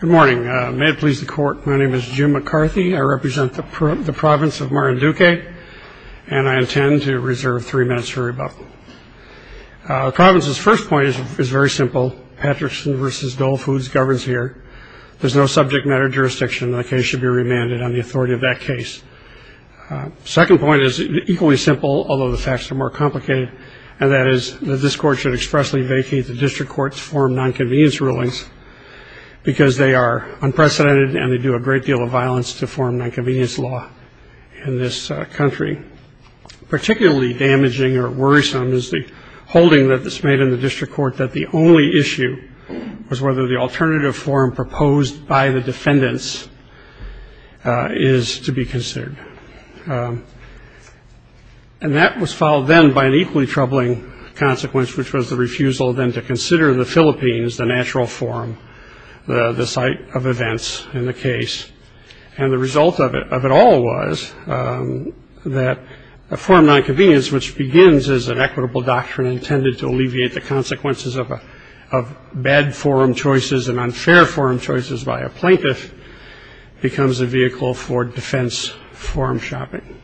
Good morning. May it please the Court, my name is Jim McCarthy. I represent the province of Marinduque, and I intend to reserve three minutes for rebuttal. The province's first point is very simple. Patrickson v. Dole Foods governs here. There is no subject matter jurisdiction, and the case should be remanded on the authority of that case. The second point is equally simple, although the facts are more complicated, and that is that this Court should expressly vacate the district court's forum nonconvenience rulings because they are unprecedented and they do a great deal of violence to forum nonconvenience law in this country. Particularly damaging or worrisome is the holding that is made in the district court that the only issue was whether the alternative forum proposed by the defendants is to be considered. And that was followed then by an equally troubling consequence, which was the refusal then to consider the Philippines the natural forum, the site of events in the case. And the result of it all was that a forum nonconvenience, which begins as an equitable doctrine intended to alleviate the consequences of bad forum choices and unfair forum choices by a plaintiff, becomes a vehicle for defense forum shopping.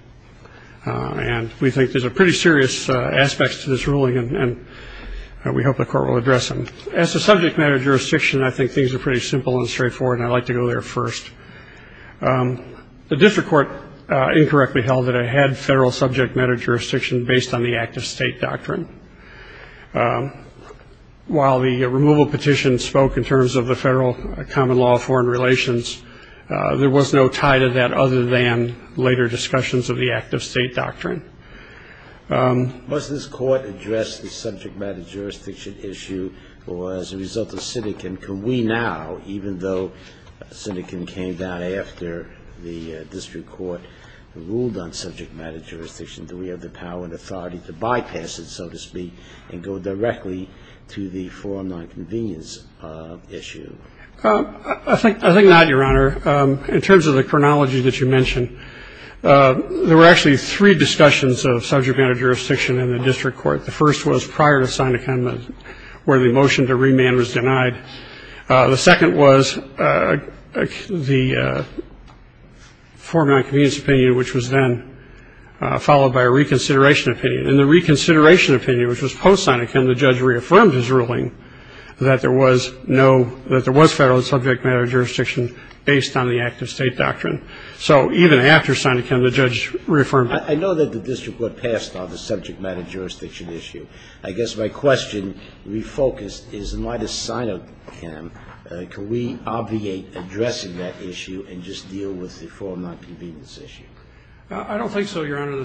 And we think these are pretty serious aspects to this ruling, and we hope the Court will address them. As to subject matter jurisdiction, I think things are pretty simple and straightforward, and I'd like to go there first. The district court incorrectly held that it had federal subject matter jurisdiction based on the active state doctrine. While the removal petition spoke in terms of the federal common law of foreign relations, there was no tie to that other than later discussions of the active state doctrine. Was this court addressed the subject matter jurisdiction issue or as a result of syndicant? Can we now, even though syndicant came down after the district court ruled on subject matter jurisdiction, do we have the power and authority to bypass it, so to speak, and go directly to the forum nonconvenience issue? I think not, Your Honor. In terms of the chronology that you mentioned, there were actually three discussions of subject matter jurisdiction in the district court. The first was prior to syndicant, where the motion to remand was denied. The second was the forum nonconvenience opinion, which was then followed by a reconsideration opinion. In the reconsideration opinion, which was post-syndicant, the judge reaffirmed his ruling that there was no ñ that there was federal subject matter jurisdiction based on the active state doctrine. So even after syndicant, the judge reaffirmed it. I know that the district court passed on the subject matter jurisdiction issue. I guess my question refocused is in light of syndicant, can we obviate addressing that issue and just deal with the forum nonconvenience issue? I don't think so, Your Honor. In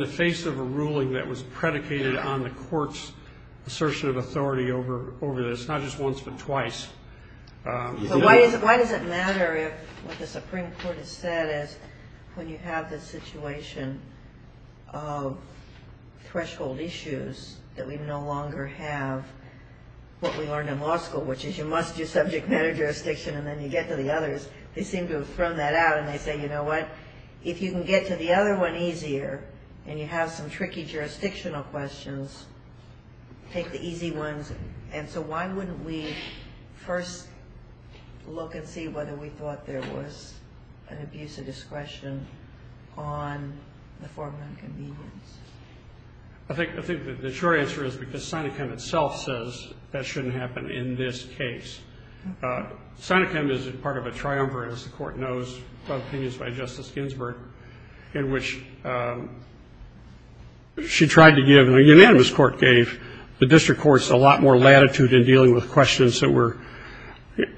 the face of a ruling that was predicated on the court's assertion of authority over this, not just once but twice. But why does it matter if what the Supreme Court has said is when you have this situation of threshold issues that we no longer have, what we learned in law school, which is you must do subject matter jurisdiction and then you get to the others, they seem to have thrown that out and they say, you know what, if you can get to the other one easier and you have some tricky jurisdictional questions, take the easy ones. And so why wouldn't we first look and see whether we thought there was an abuse of discretion on the forum nonconvenience? I think the short answer is because syndicant itself says that shouldn't happen in this case. Syndicant is part of a triumvirate, as the Court knows, of opinions by Justice Ginsburg, in which she tried to give, and a unanimous court gave the district courts a lot more latitude in dealing with questions that were,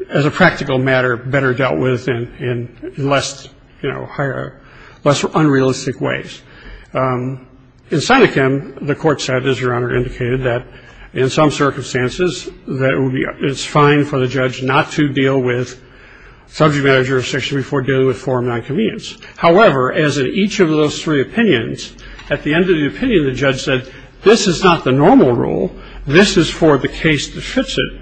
as a practical matter, better dealt with in less, you know, higher, less unrealistic ways. In syndicant, the court said, as Your Honor indicated, that in some circumstances, that it's fine for the judge not to deal with subject matter jurisdiction before dealing with forum nonconvenience. However, as in each of those three opinions, at the end of the opinion, the judge said, this is not the normal rule, this is for the case that fits it.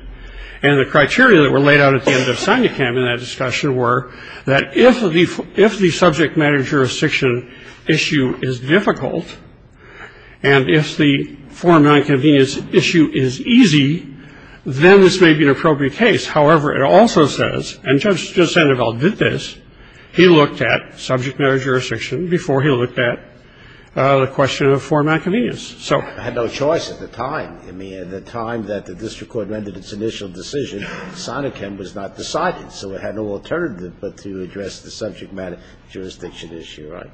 And the criteria that were laid out at the end of syndicant in that discussion were that if the subject matter jurisdiction issue is difficult, and if the forum nonconvenience issue is easy, then this may be an appropriate case. However, it also says, and Judge Sandoval did this, he looked at subject matter jurisdiction before he looked at the question of forum nonconvenience. So he had no choice at the time. I mean, at the time that the district court rendered its initial decision, syndicant was not decided, so it had no alternative but to address the subject matter jurisdiction issue, right?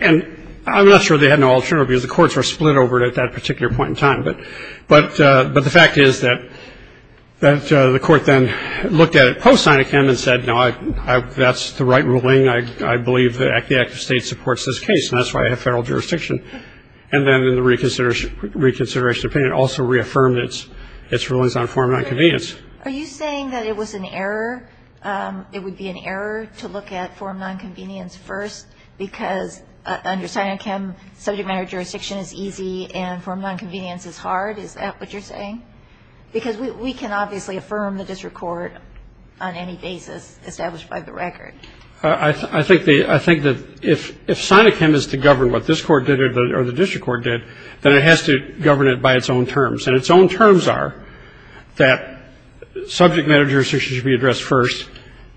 And I'm not sure they had no alternative, because the courts were split over it at that particular point in time. But the fact is that the court then looked at it post-syndicant and said, no, that's the right ruling. I believe the act of state supports this case, and that's why I have federal jurisdiction. And then in the reconsideration opinion, also reaffirmed its rulings on forum nonconvenience. Are you saying that it was an error, it would be an error to look at forum nonconvenience first, because under Sinochem, subject matter jurisdiction is easy and forum nonconvenience is hard? Is that what you're saying? Because we can obviously affirm the district court on any basis established by the record. I think that if Sinochem is to govern what this court did or the district court did, then it has to govern it by its own terms. And its own terms are that subject matter jurisdiction should be addressed first,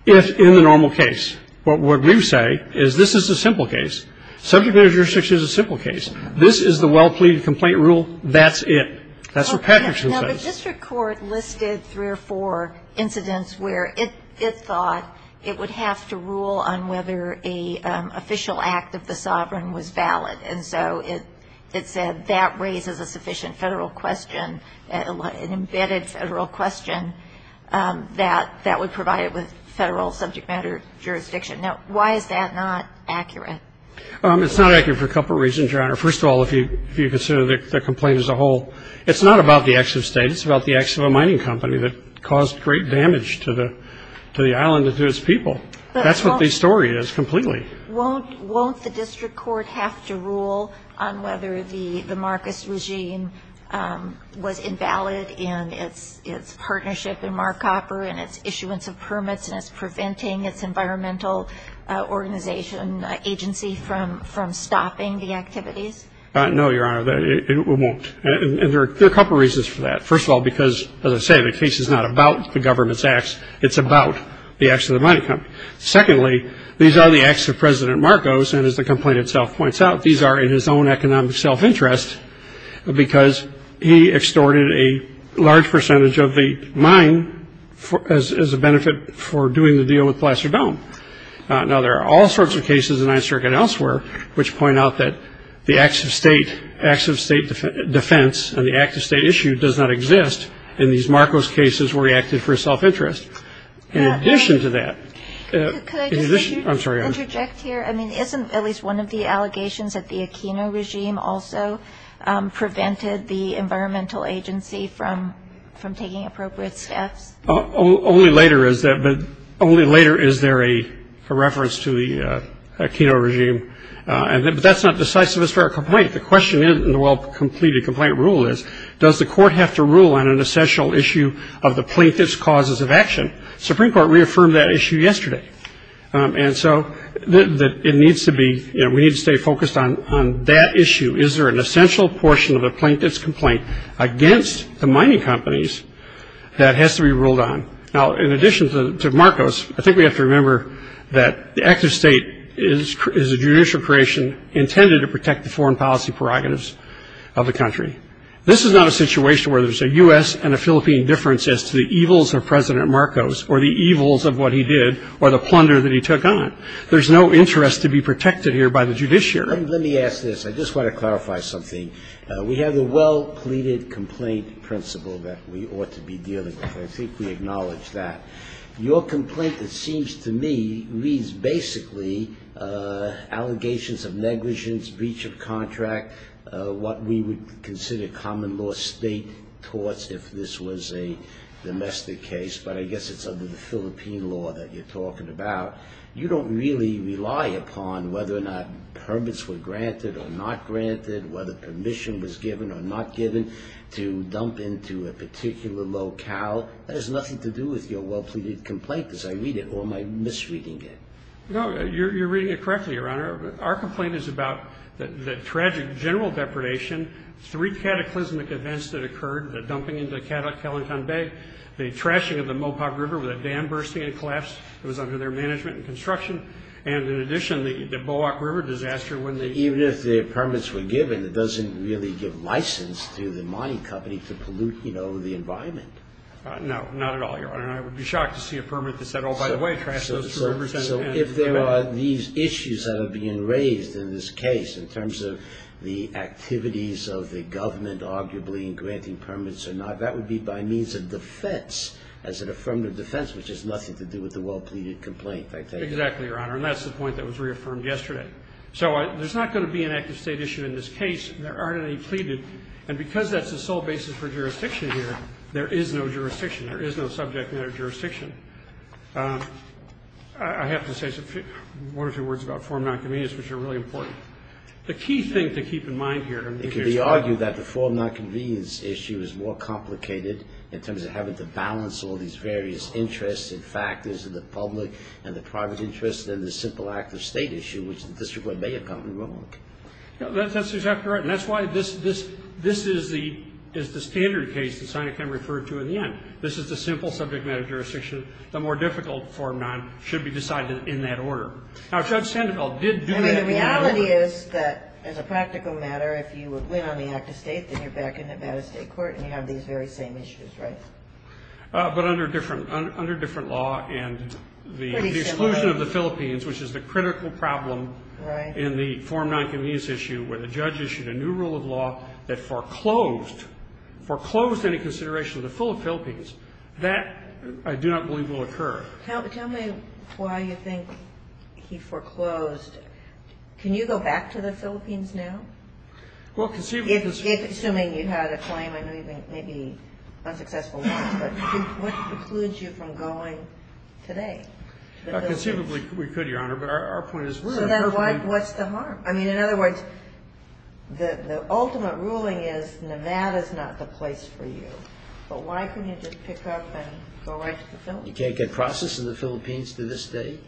if in the normal case. But what you say is this is a simple case. Subject matter jurisdiction is a simple case. This is the well-pleaded complaint rule. That's it. That's what Patrickson says. Now, the district court listed three or four incidents where it thought it would have to rule on whether an official act of the sovereign was valid. And so it said that raises a sufficient Federal question, an embedded Federal question that would provide it with Federal subject matter jurisdiction. Now, why is that not accurate? It's not accurate for a couple reasons, Your Honor. First of all, if you consider the complaint as a whole, it's not about the acts of state. It's about the acts of a mining company that caused great damage to the island and to its people. That's what the story is completely. Won't the district court have to rule on whether the Marcus regime was invalid in its partnership in Marcopper and its issuance of permits and its preventing its environmental organization agency from stopping the activities? No, Your Honor. It won't. And there are a couple reasons for that. First of all, because, as I say, the case is not about the government's acts. It's about the acts of the mining company. Secondly, these are the acts of President Marcos. And as the complaint itself points out, these are in his own economic self-interest, because he extorted a large percentage of the mine as a benefit for doing the deal with Placer Dome. Now, there are all sorts of cases in the Ninth Circuit and elsewhere which point out that the acts of state defense and the acts of state issue does not exist in these Marcos cases where he acted for self-interest. In addition to that ‑‑ Could I just interject here? I'm sorry. I mean, isn't at least one of the allegations that the Aquino regime also prevented the environmental agency from taking appropriate steps? Only later is there a reference to the Aquino regime. But that's not decisive. It's for a complaint. The question in the well-completed complaint rule is, does the court have to rule on an essential issue of the plaintiff's causes of action? The Supreme Court reaffirmed that issue yesterday. And so it needs to be ‑‑ we need to stay focused on that issue. Is there an essential portion of the plaintiff's complaint against the mining companies that has to be ruled on? Now, in addition to Marcos, I think we have to remember that the acts of state is a judicial creation intended to protect the foreign policy prerogatives of the country. This is not a situation where there's a U.S. and a Philippine difference as to the evils of President Marcos or the evils of what he did or the plunder that he took on. There's no interest to be protected here by the judiciary. Let me ask this. I just want to clarify something. We have the well‑pleaded complaint principle that we ought to be dealing with. I think we acknowledge that. Your complaint, it seems to me, reads basically allegations of negligence, breach of contract, what we would consider common law state torts if this was a domestic case, but I guess it's under the Philippine law that you're talking about. You don't really rely upon whether or not permits were granted or not granted, whether permission was given or not given to dump into a particular locale. That has nothing to do with your well‑pleaded complaint, as I read it, or am I misreading it? No, you're reading it correctly, Your Honor. Our complaint is about the tragic general depredation, three cataclysmic events that occurred, the dumping into Calenton Bay, the trashing of the Mopoc River with a dam bursting, it collapsed, it was under their management and construction, and in addition, the Boak River disaster when they ‑‑ Even if the permits were given, it doesn't really give license to the mining company to pollute the environment. No, not at all, Your Honor. I would be shocked to see a permit that said, So if there are these issues that are being raised in this case in terms of the activities of the government arguably in granting permits or not, that would be by means of defense as an affirmative defense, which has nothing to do with the well‑pleaded complaint, I take it? Exactly, Your Honor. And that's the point that was reaffirmed yesterday. So there's not going to be an active state issue in this case. There aren't any pleaded. And because that's the sole basis for jurisdiction here, there is no jurisdiction. There is no subject matter jurisdiction. I have to say one or two words about form non‑convenience, which are really important. The key thing to keep in mind here is ‑‑ It can be argued that the form non‑convenience issue is more complicated in terms of having to balance all these various interests and factors of the public and the private interest than the simple act of state issue, which the district court may have gotten wrong. That's exactly right. And that's why this is the standard case that Sinachem referred to in the end. This is the simple subject matter jurisdiction. The more difficult form non‑convenience should be decided in that order. Now, Judge Sandoval did do that. I mean, the reality is that as a practical matter, if you would win on the act of state, then you're back in Nevada State Court and you have these very same issues, right? But under different law and the exclusion of the Philippines, which is the critical problem in the form non‑convenience issue where the judge issued a new rule of law that foreclosed any consideration to the full of Philippines, that I do not believe will occur. Tell me why you think he foreclosed. Can you go back to the Philippines now? Well, conceivably ‑‑ Assuming you had a claim and maybe unsuccessful ones, but what precludes you from going today? Conceivably, we could, Your Honor, but our point is ‑‑ So then what's the harm? I mean, in other words, the ultimate ruling is Nevada is not the place for you. But why couldn't you just pick up and go right to the Philippines? You can't get process in the Philippines to this day?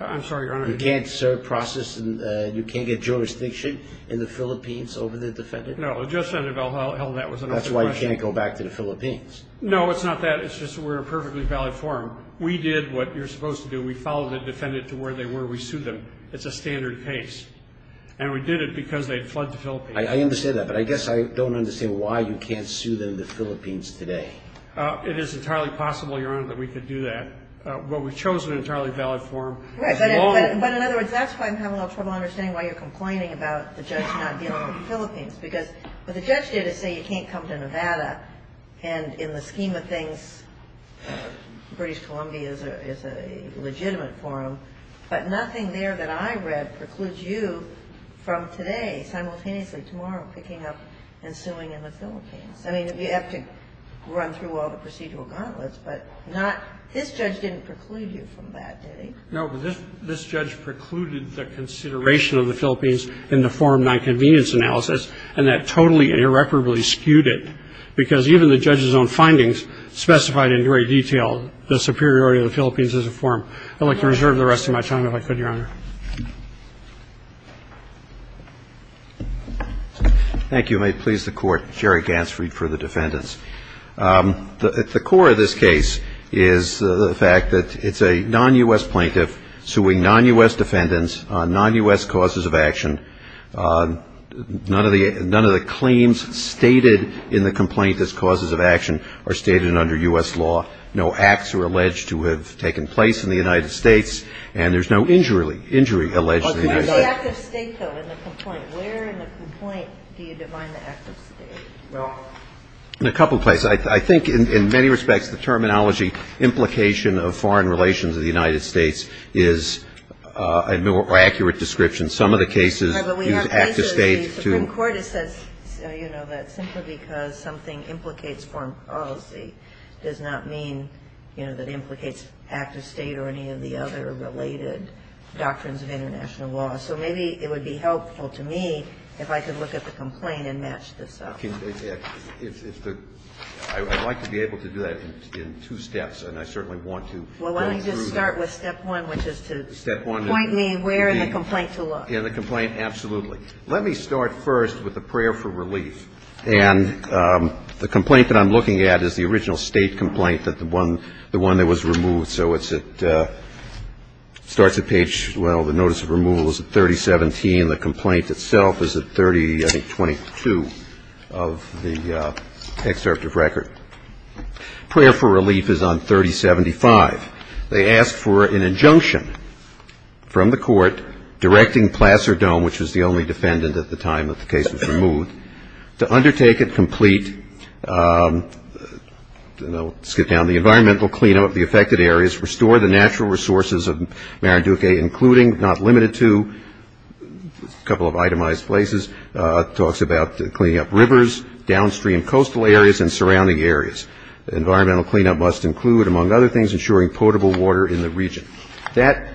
I'm sorry, Your Honor. You can't serve process and you can't get jurisdiction in the Philippines over the defendant? No, Judge Sandoval held that was another question. That's why you can't go back to the Philippines? No, it's not that. It's just we're a perfectly valid forum. We did what you're supposed to do. We followed the defendant to where they were. We sued them. It's a standard case. And we did it because they had fled the Philippines. I understand that. But I guess I don't understand why you can't sue them the Philippines today. It is entirely possible, Your Honor, that we could do that. But we chose an entirely valid forum. Right. But in other words, that's why I'm having a little trouble understanding why you're complaining about the judge not dealing with the Philippines. Because what the judge did is say you can't come to Nevada, and in the scheme of things, British Columbia is a legitimate forum. But nothing there that I read precludes you from today simultaneously, tomorrow, picking up and suing in the Philippines. I mean, you have to run through all the procedural gauntlets, but not this judge didn't preclude you from that, did he? No, but this judge precluded the consideration of the Philippines in the forum nonconvenience analysis, and that totally and irreparably skewed it. Because even the judge's own findings specified in great detail the superiority of the Philippines as a forum. I'd like to reserve the rest of my time if I could, Your Honor. Thank you. May it please the Court. Jerry Gansfried for the defendants. The core of this case is the fact that it's a non-U.S. plaintiff suing non-U.S. defendants on non-U.S. causes of action. None of the claims stated in the complaint as causes of action are stated under U.S. law. No acts are alleged to have taken place in the United States, and there's no injury alleged in the United States. Where in the complaint do you define the act of state? Well, in a couple of places. I think in many respects the terminology implication of foreign relations of the United States is a more accurate description. Some of the cases use act of state to. But in court it says, you know, that simply because something implicates foreign policy does not mean, you know, that it implicates act of state or any of the other related doctrines of international law. So maybe it would be helpful to me if I could look at the complaint and match this up. I'd like to be able to do that in two steps, and I certainly want to go through. Well, let me just start with step one, which is to point me where in the complaint to look. In the complaint, absolutely. Let me start first with the prayer for relief. And the complaint that I'm looking at is the original state complaint that the one that was removed. So it's at the starts of page, well, the notice of removal is at 3017. The complaint itself is at 30, I think, 22 of the excerpt of record. Prayer for relief is on 3075. They ask for an injunction from the court directing Placer Dome, which was the only defendant at the time that the case was removed, to undertake and complete, you know, skip down, the environmental cleanup of the affected areas, restore the natural resources of Maranduke, including, not limited to, a couple of itemized places, talks about cleaning up rivers, downstream coastal areas, and surrounding areas. Environmental cleanup must include, among other things, ensuring potable water in the region. That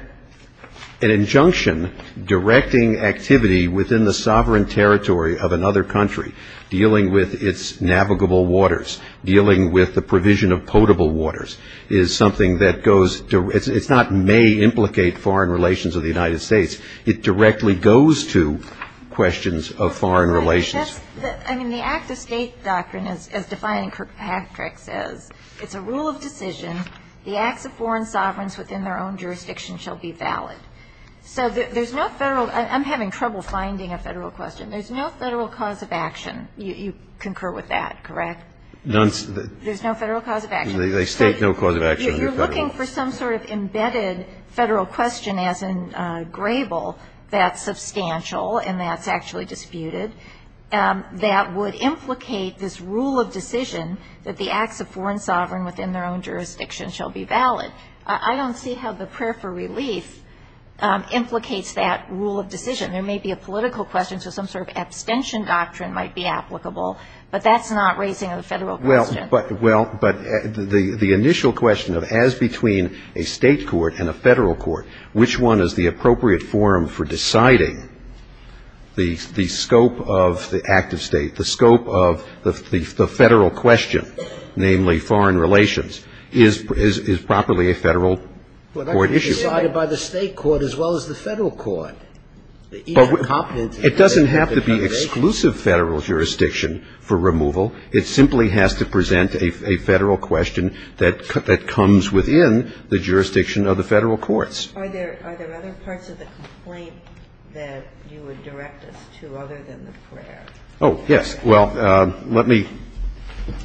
an injunction directing activity within the sovereign territory of another country, dealing with its navigable waters, dealing with the provision of potable waters, is something that goes, it's not may implicate foreign relations of the United States. It directly goes to questions of foreign relations. I mean, the act of state doctrine, as defined in Kirkpatrick, says, it's a rule of decision, the acts of foreign sovereigns within their own jurisdiction shall be valid. So there's no Federal, I'm having trouble finding a Federal question. There's no Federal cause of action. You concur with that, correct? There's no Federal cause of action. They state no cause of action. If you're looking for some sort of embedded Federal question, as in Grable, that's substantial, and that's actually disputed. That would implicate this rule of decision that the acts of foreign sovereign within their own jurisdiction shall be valid. I don't see how the prayer for relief implicates that rule of decision. There may be a political question, so some sort of abstention doctrine might be applicable, but that's not raising a Federal question. Well, but the initial question of as between a State court and a Federal court, which one is the appropriate forum for deciding the scope of the act of State, the scope of the Federal question, namely foreign relations, is properly a Federal court issue. But that can be decided by the State court as well as the Federal court. It doesn't have to be exclusive Federal jurisdiction for removal. It simply has to present a Federal question that comes within the jurisdiction of the Federal courts. Are there other parts of the complaint that you would direct us to other than the prayer? Oh, yes. Well, let me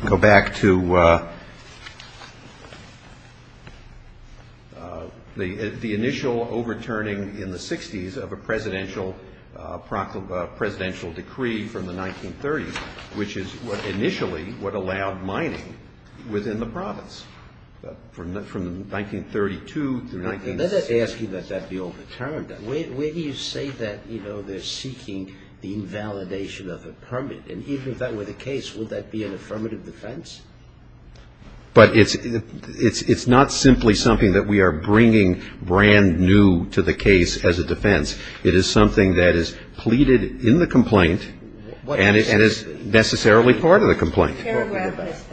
go back to the initial overturning in the 60s of a presidential decree from the 1930s, which is initially what allowed mining within the province. From 1932 through 1936. They're not asking that that be overturned. I'm just asking that, where do you say that, you know, they're seeking the invalidation of a permit? And even if that were the case, would that be an affirmative defense? But it's not simply something that we are bringing brand-new to the case as a defense. It is something that is pleaded in the complaint and is necessarily part of the complaint. What paragraph is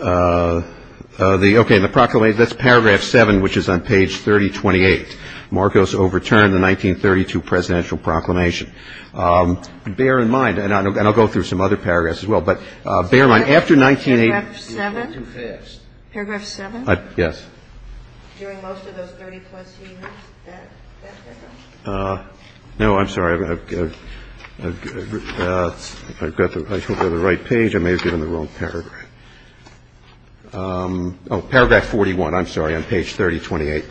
that? The, okay, in the proclamation, that's paragraph 7, which is on page 3028. Marcos overturned the 1932 presidential proclamation. Bear in mind, and I'll go through some other paragraphs as well, but bear in mind, after 1980. Paragraph 7? Paragraph 7? Yes. During most of those 30-plus years, that paragraph? No, I'm sorry. If I've got the right page, I may have given the wrong paragraph. Oh, paragraph 41. I'm sorry. On page 3028.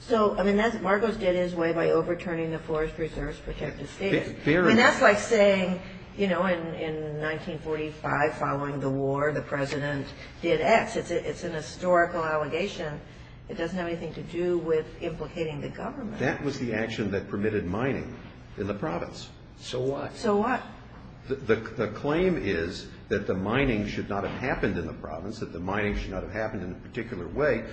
So, I mean, Marcos did his way by overturning the Forest Reserve's protective status. I mean, that's like saying, you know, in 1945, following the war, the president did X. It's an historical allegation. It doesn't have anything to do with implicating the government. That was the action that permitted mining in the province. So what? So what? The claim is that the mining should not have happened in the province, that the mining should not have happened in a particular way,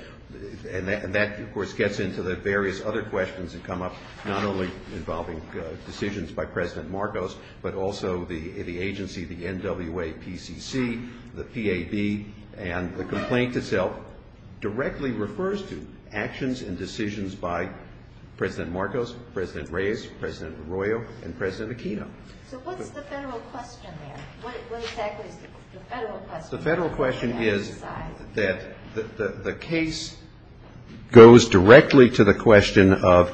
and that, of course, gets into the various other questions that come up, not only involving decisions by President Marcos, but also the agency, the NWAPCC, the PAB, and the complaint itself directly refers to actions and decisions by President Marcos, President Reyes, President Arroyo, and President Aquino. So what's the federal question there? What exactly is the federal question? The federal question is that the case goes directly to the question of,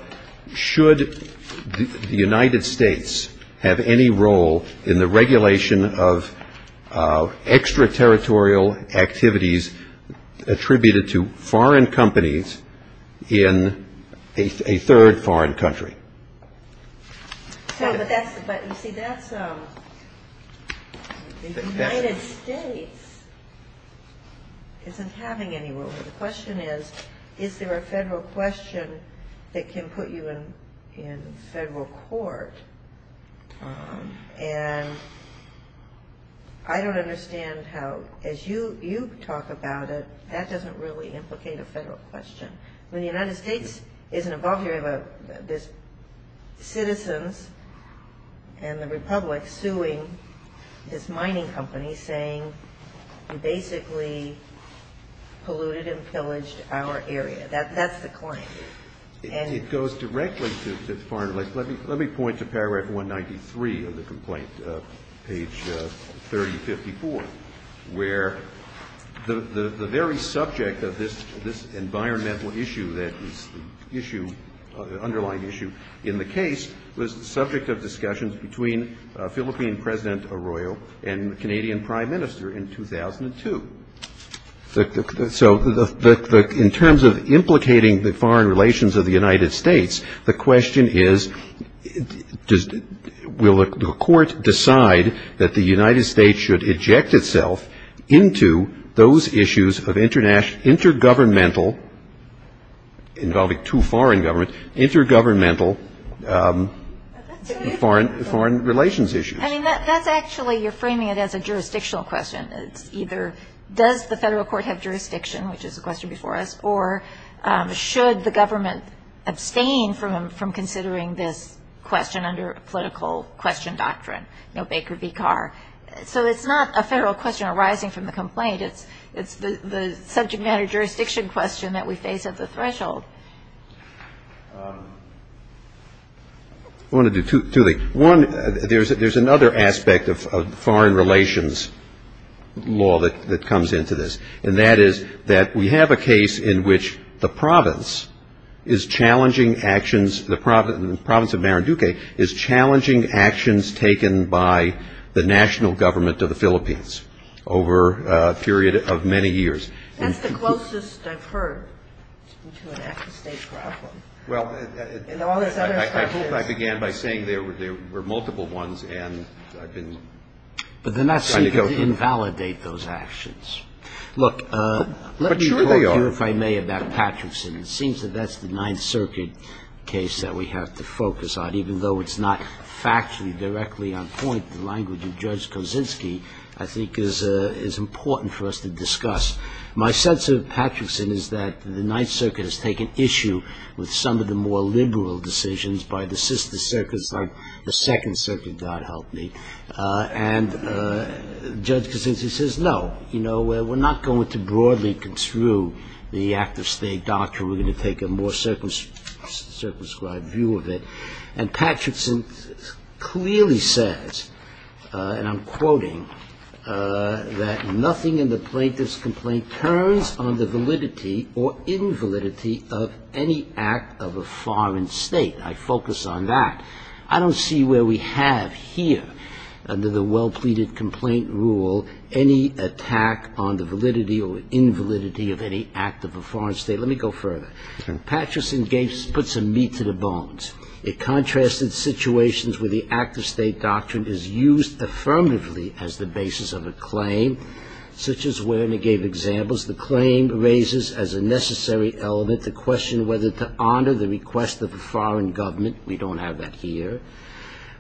should the United States have any role in the regulation of extraterritorial activities attributed to foreign companies in a third foreign country? But, you see, that's the United States isn't having any role. The question is, is there a federal question that can put you in federal court? And I don't understand how, as you talk about it, that doesn't really implicate a federal question. When the United States isn't involved, you have citizens and the republic suing this mining company saying you basically polluted and pillaged our area. That's the claim. It goes directly to foreign relations. Let me point to paragraph 193 of the complaint, page 3054, where the very subject of this environmental issue that is the underlying issue in the case was the subject of discussions between Philippine President Arroyo and the Canadian prime minister in 2002. So in terms of implicating the foreign relations of the United States, the question is, will the court decide that the United States should eject itself into those issues of intergovernmental, involving two foreign governments, intergovernmental foreign relations issues? I mean, that's actually, you're framing it as a jurisdictional question. It's either does the federal court have jurisdiction, which is a question before us, or should the government abstain from considering this question under political question doctrine, you know, Baker v. Carr. So it's not a federal question arising from the complaint. It's the subject matter jurisdiction question that we face at the threshold. I want to do two things. One, there's another aspect of foreign relations law that comes into this, and that is that we have a case in which the province is challenging actions, the province of Marinduque is challenging actions taken by the national government of the Philippines over a period of many years. That's the closest I've heard to an after-state problem. Well, I hope I began by saying there were multiple ones, and I've been trying to go through them. But they're not seeking to invalidate those actions. Look, let me quote you, if I may, about Patterson. It seems that that's the Ninth Circuit case that we have to focus on, even though it's not factually directly on point. The language of Judge Kosinski, I think, is important for us to discuss. My sense of Patterson is that the Ninth Circuit has taken issue with some of the more liberal decisions by the sister circuits, like the Second Circuit, God help me. And Judge Kosinski says, no, you know, we're not going to broadly construe the act of state doctrine. We're going to take a more circumscribed view of it. And Patterson clearly says, and I'm quoting, that nothing in the plaintiff's complaint turns on the validity or invalidity of any act of a foreign state. I focus on that. I don't see where we have here, under the well-pleaded complaint rule, any attack on the validity or invalidity of any act of a foreign state. Let me go further. Patterson put some meat to the bones. It contrasted situations where the act of state doctrine is used affirmatively as the basis of a claim, such as where, and he gave examples, the claim raises as a necessary element to question whether to honor the request of a foreign government. We don't have that here.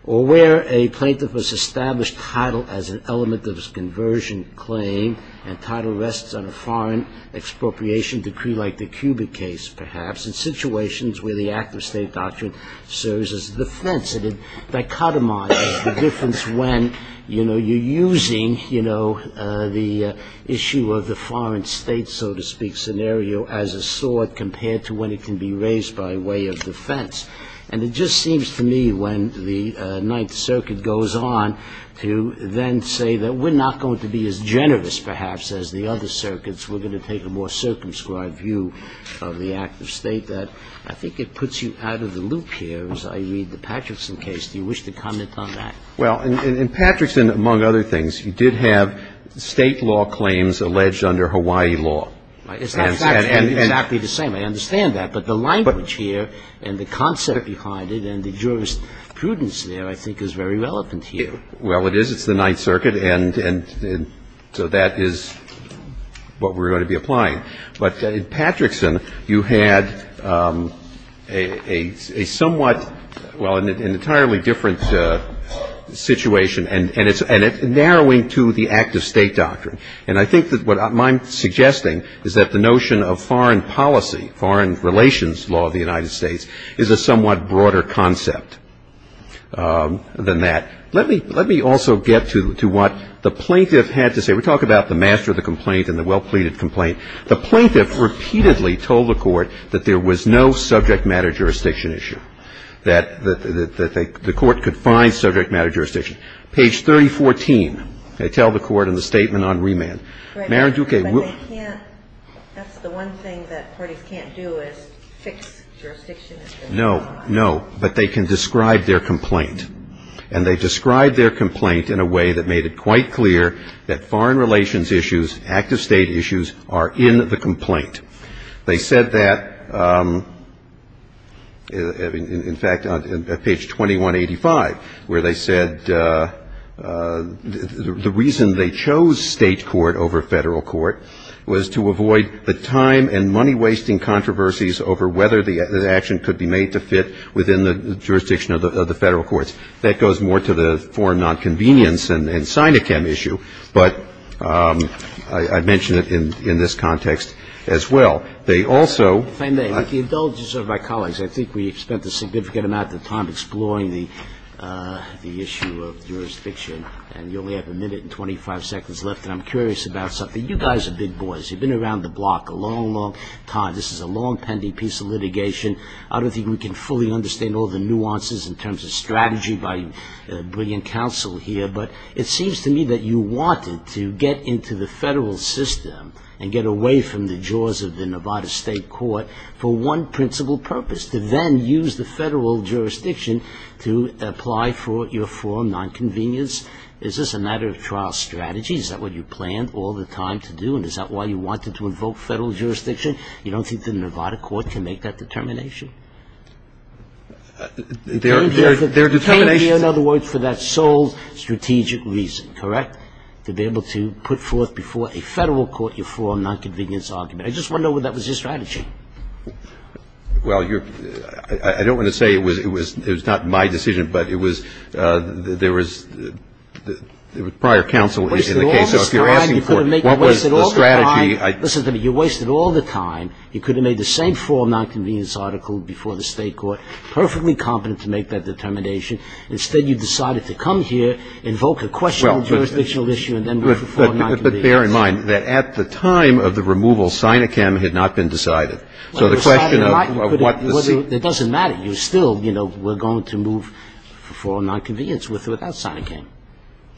Or where a plaintiff has established title as an element of his conversion claim, and title rests on a foreign expropriation decree like the Cuba case, perhaps, in situations where the act of state doctrine serves as a defense. It dichotomizes the difference when, you know, you're using, you know, the issue of the foreign state, so to speak, scenario as a sword, compared to when it can be raised by way of defense. And it just seems to me, when the Ninth Circuit goes on, to then say that we're not going to be as generous, perhaps, as the other circuits, we're going to take a more circumscribed view of the act of state, that I think it puts you out of the loop here, as I read the Patterson case. Do you wish to comment on that? Well, in Patterson, among other things, you did have state law claims alleged under Hawaii law. It's actually the same. I understand that. But the language here and the concept behind it and the jurisprudence there, I think, is very relevant here. Well, it is. It's the Ninth Circuit. And so that is what we're going to be applying. But in Patterson, you had a somewhat, well, an entirely different situation, and it's narrowing to the act of state doctrine. And I think that what I'm suggesting is that the notion of foreign policy, foreign relations law of the United States, is a somewhat broader concept than that. Let me also get to what the plaintiff had to say. We talk about the master of the complaint and the well-pleaded complaint. The plaintiff repeatedly told the court that there was no subject matter jurisdiction issue, that the court could find subject matter jurisdiction. Page 3014, they tell the court in the statement on remand. Right. That's the one thing that parties can't do is fix jurisdiction issues. No, no. But they can describe their complaint. And they described their complaint in a way that made it quite clear that foreign relations issues, active state issues, are in the complaint. They said that, in fact, on page 2185, where they said the reason they chose state court over Federal court was to avoid the time and money-wasting controversies over whether the action could be made to fit within the jurisdiction of the Federal courts. That goes more to the foreign nonconvenience and Sinochem issue. But I mentioned it in this context as well. They also ---- The indulgence of my colleagues, I think we spent a significant amount of time exploring the issue of jurisdiction. And you only have a minute and 25 seconds left. And I'm curious about something. You guys are big boys. You've been around the block a long, long time. This is a long-pending piece of litigation. I don't think we can fully understand all the nuances in terms of strategy by brilliant counsel here. But it seems to me that you wanted to get into the Federal system and get away from the jaws of the Nevada state court for one principal purpose, to then use the Federal jurisdiction to apply for your foreign nonconvenience. Is this a matter of trial strategy? Is that what you planned all the time to do? And is that why you wanted to invoke Federal jurisdiction? You don't think the Nevada court can make that determination? There are determinations. You came here, in other words, for that sole strategic reason, correct? To be able to put forth before a Federal court your foreign nonconvenience argument. I just wonder whether that was your strategy. Well, you're ---- I don't want to say it was not my decision, but it was ---- there was prior counsel in the case. So if you're asking for what was the strategy, I ---- Well, listen to me. You wasted all the time. You could have made the same foreign nonconvenience article before the state court, perfectly competent to make that determination. Instead, you decided to come here, invoke a question of jurisdictional issue and then move to foreign nonconvenience. But bear in mind that at the time of the removal, SINICAM had not been decided. So the question of what the ---- It doesn't matter. You still, you know, were going to move for nonconvenience without SINICAM.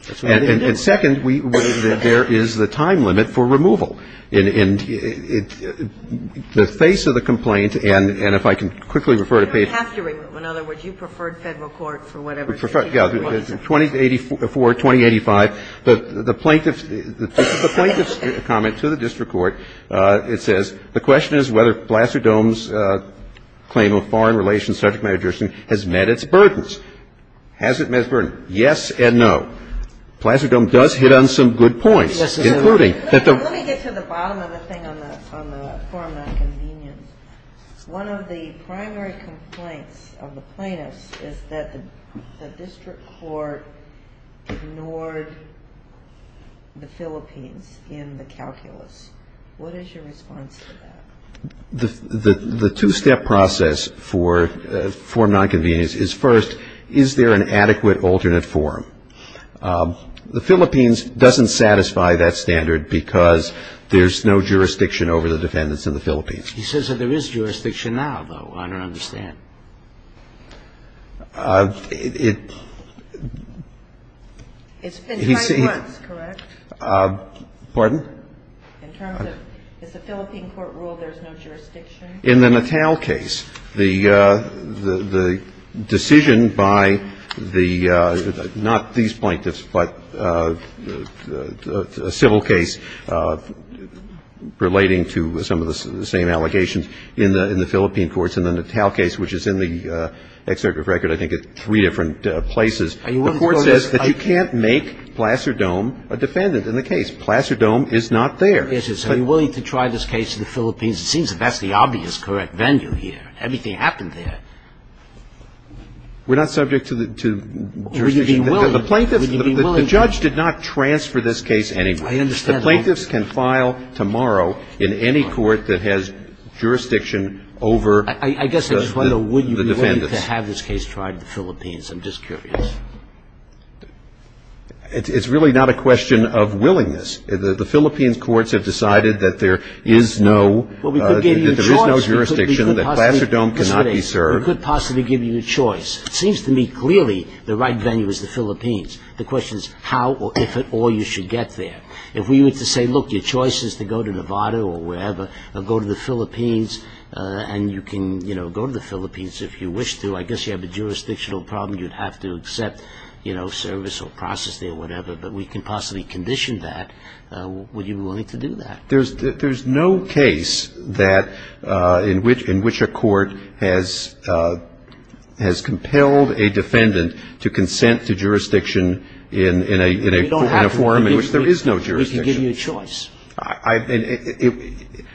That's what they did. And second, we ---- there is the time limit for removal. In the face of the complaint, and if I can quickly refer to page ---- You don't have to remove. In other words, you preferred Federal court for whatever reason. Yeah. 2084, 2085, the plaintiff's comment to the district court, it says, The question is whether Placer-Dohm's claim of foreign relations subject matter jurisdiction has met its burdens. Has it met its burdens? Yes and no. Placer-Dohm does hit on some good points, including that the ---- Let me get to the bottom of the thing on the foreign nonconvenience. One of the primary complaints of the plaintiffs is that the district court ignored the Philippines in the calculus. What is your response to that? The two-step process for foreign nonconvenience is, first, is there an adequate alternate forum? The Philippines doesn't satisfy that standard because there's no jurisdiction over the defendants in the Philippines. He says that there is jurisdiction now, though. I don't understand. It's been tried once, correct? Pardon? In terms of is the Philippine court ruled there's no jurisdiction? In the Natal case, the decision by the, not these plaintiffs, but a civil case relating to some of the same allegations in the Philippine courts in the Natal case, which is in the executive record, I think, at three different places, the court says that you can't make Placer-Dohm a defendant in the case. Placer-Dohm is not there. So you're willing to try this case in the Philippines? It seems that that's the obvious correct venue here. Everything happened there. We're not subject to jurisdiction. Would you be willing? The plaintiffs, the judge did not transfer this case anyway. I understand. The plaintiffs can file tomorrow in any court that has jurisdiction over the defendants. I guess I just wonder, would you be willing to have this case tried in the Philippines? I'm just curious. It's really not a question of willingness. The Philippines courts have decided that there is no jurisdiction, that Placer-Dohm cannot be served. We could possibly give you a choice. It seems to me clearly the right venue is the Philippines. The question is how or if at all you should get there. If we were to say, look, your choice is to go to Nevada or wherever, or go to the Philippines, and you can go to the Philippines if you wish to. I guess you have a jurisdictional problem. You'd have to accept service or process there or whatever. But we can possibly condition that. Would you be willing to do that? There's no case that in which a court has compelled a defendant to consent to jurisdiction in a form in which there is no jurisdiction. We can give you a choice.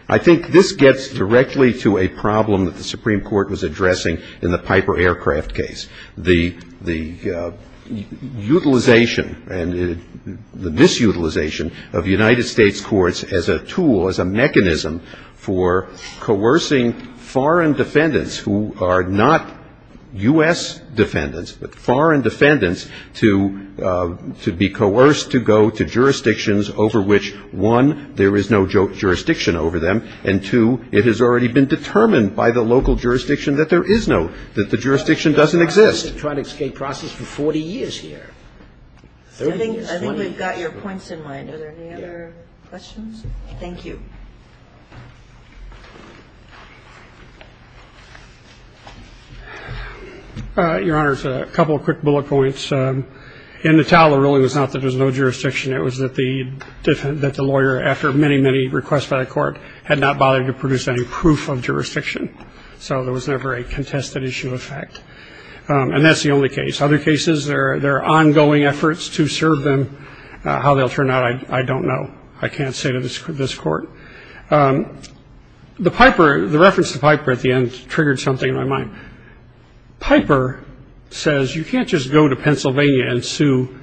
I think this gets directly to a problem that the Supreme Court was addressing in the Piper Aircraft case. The utilization and the disutilization of United States courts as a tool, as a mechanism, for coercing foreign defendants who are not U.S. defendants, but foreign defendants, to be coerced to go to jurisdictions over which, one, there is no jurisdiction over them, and, two, it has already been determined by the local jurisdiction that there is no, that the jurisdiction doesn't exist. We've been trying to escape process for 40 years here. I think we've got your points in mind. Are there any other questions? Thank you. Your Honor, a couple of quick bullet points. In Natala, it really was not that there was no jurisdiction. It was that the lawyer, after many, many requests by the court, had not bothered to produce any proof of jurisdiction. So there was never a contested issue of fact. And that's the only case. Other cases, there are ongoing efforts to serve them. How they'll turn out, I don't know. I can't say to this court. The Piper, the reference to Piper at the end, triggered something in my mind. Piper says, you can't just go to Pennsylvania and sue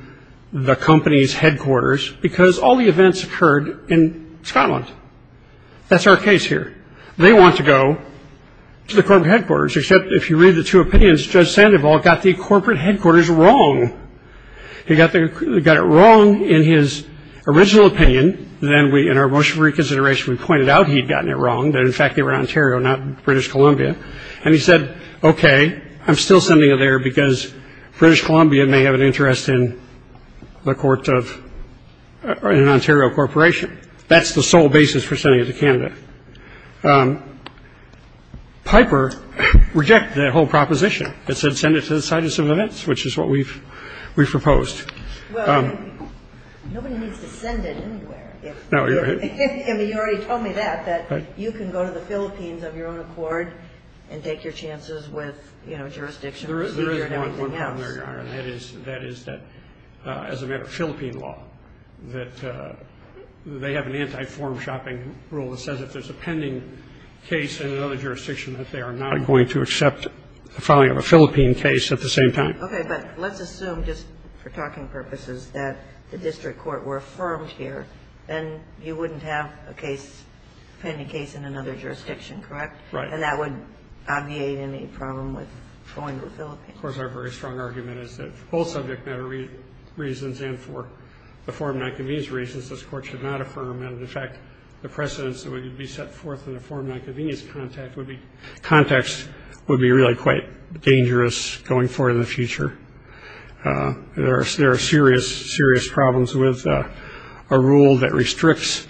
the company's headquarters, because all the events occurred in Scotland. That's our case here. They want to go to the corporate headquarters, except if you read the two opinions, Judge Sandoval got the corporate headquarters wrong. He got it wrong in his original opinion. Then, in our motion for reconsideration, we pointed out he'd gotten it wrong, that, in fact, they were in Ontario, not British Columbia. And he said, okay, I'm still sending it there, because British Columbia may have an interest in the court of an Ontario corporation. That's the sole basis for sending it to Canada. Piper rejected that whole proposition. It said send it to the site of some events, which is what we've proposed. Well, nobody needs to send it anywhere. No, you're right. And you already told me that, that you can go to the Philippines of your own accord and take your chances with, you know, jurisdiction. There is one problem there, Your Honor, and that is that, as a matter of Philippine law, that they have an anti-form-shopping rule that says if there's a pending case in another jurisdiction that they are not going to accept the filing of a Philippine case at the same time. Okay, but let's assume, just for talking purposes, that the district court were affirmed here, then you wouldn't have a case, a pending case in another jurisdiction, correct? Right. And that would obviate any problem with going to the Philippines. Of course, our very strong argument is that for both subject matter reasons and for the form-not-convenience reasons, this court should not affirm. And, in fact, the precedents that would be set forth in the form-not-convenience context would be really quite dangerous going forward in the future. There are serious, serious problems with a rule that restricts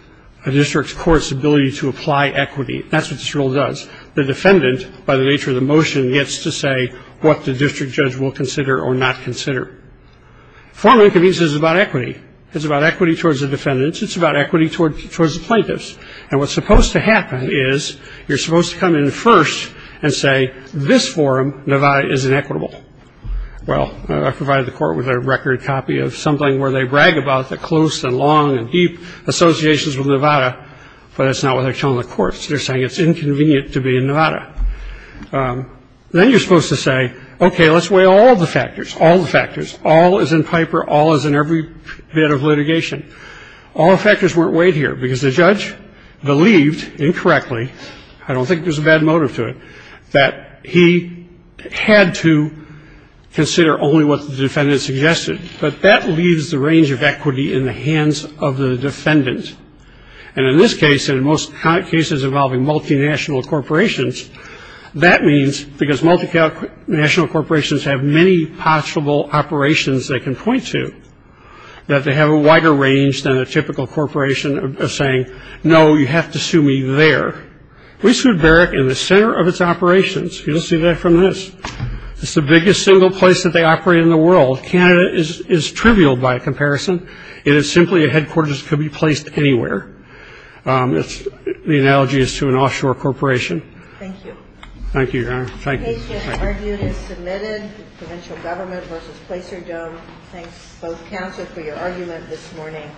a district court's ability to apply equity. That's what this rule does. The defendant, by the nature of the motion, gets to say what the district judge will consider or not consider. Form-not-convenience is about equity. It's about equity towards the defendants. It's about equity towards the plaintiffs. And what's supposed to happen is you're supposed to come in first and say, this forum, Nevada, is inequitable. Well, I provided the court with a record copy of something where they brag about the close and long and deep associations with Nevada, but that's not what they're telling the courts. They're saying it's inconvenient to be in Nevada. Then you're supposed to say, okay, let's weigh all the factors, all the factors. All is in Piper. All is in every bit of litigation. All the factors weren't weighed here because the judge believed, incorrectly, I don't think there's a bad motive to it, that he had to consider only what the defendant suggested. But that leaves the range of equity in the hands of the defendant. And in this case, and in most cases involving multinational corporations, that means because multinational corporations have many possible operations they can point to, that they have a wider range than a typical corporation of saying, no, you have to sue me there. We sued Barrick in the center of its operations. You'll see that from this. It's the biggest single place that they operate in the world. Canada is trivial by comparison. It is simply a headquarters that could be placed anywhere. The analogy is to an offshore corporation. Thank you. Thank you, Your Honor. Thank you. The case has been argued and submitted. Provincial Government v. Placer-Jones. Thanks both counsel for your argument this morning.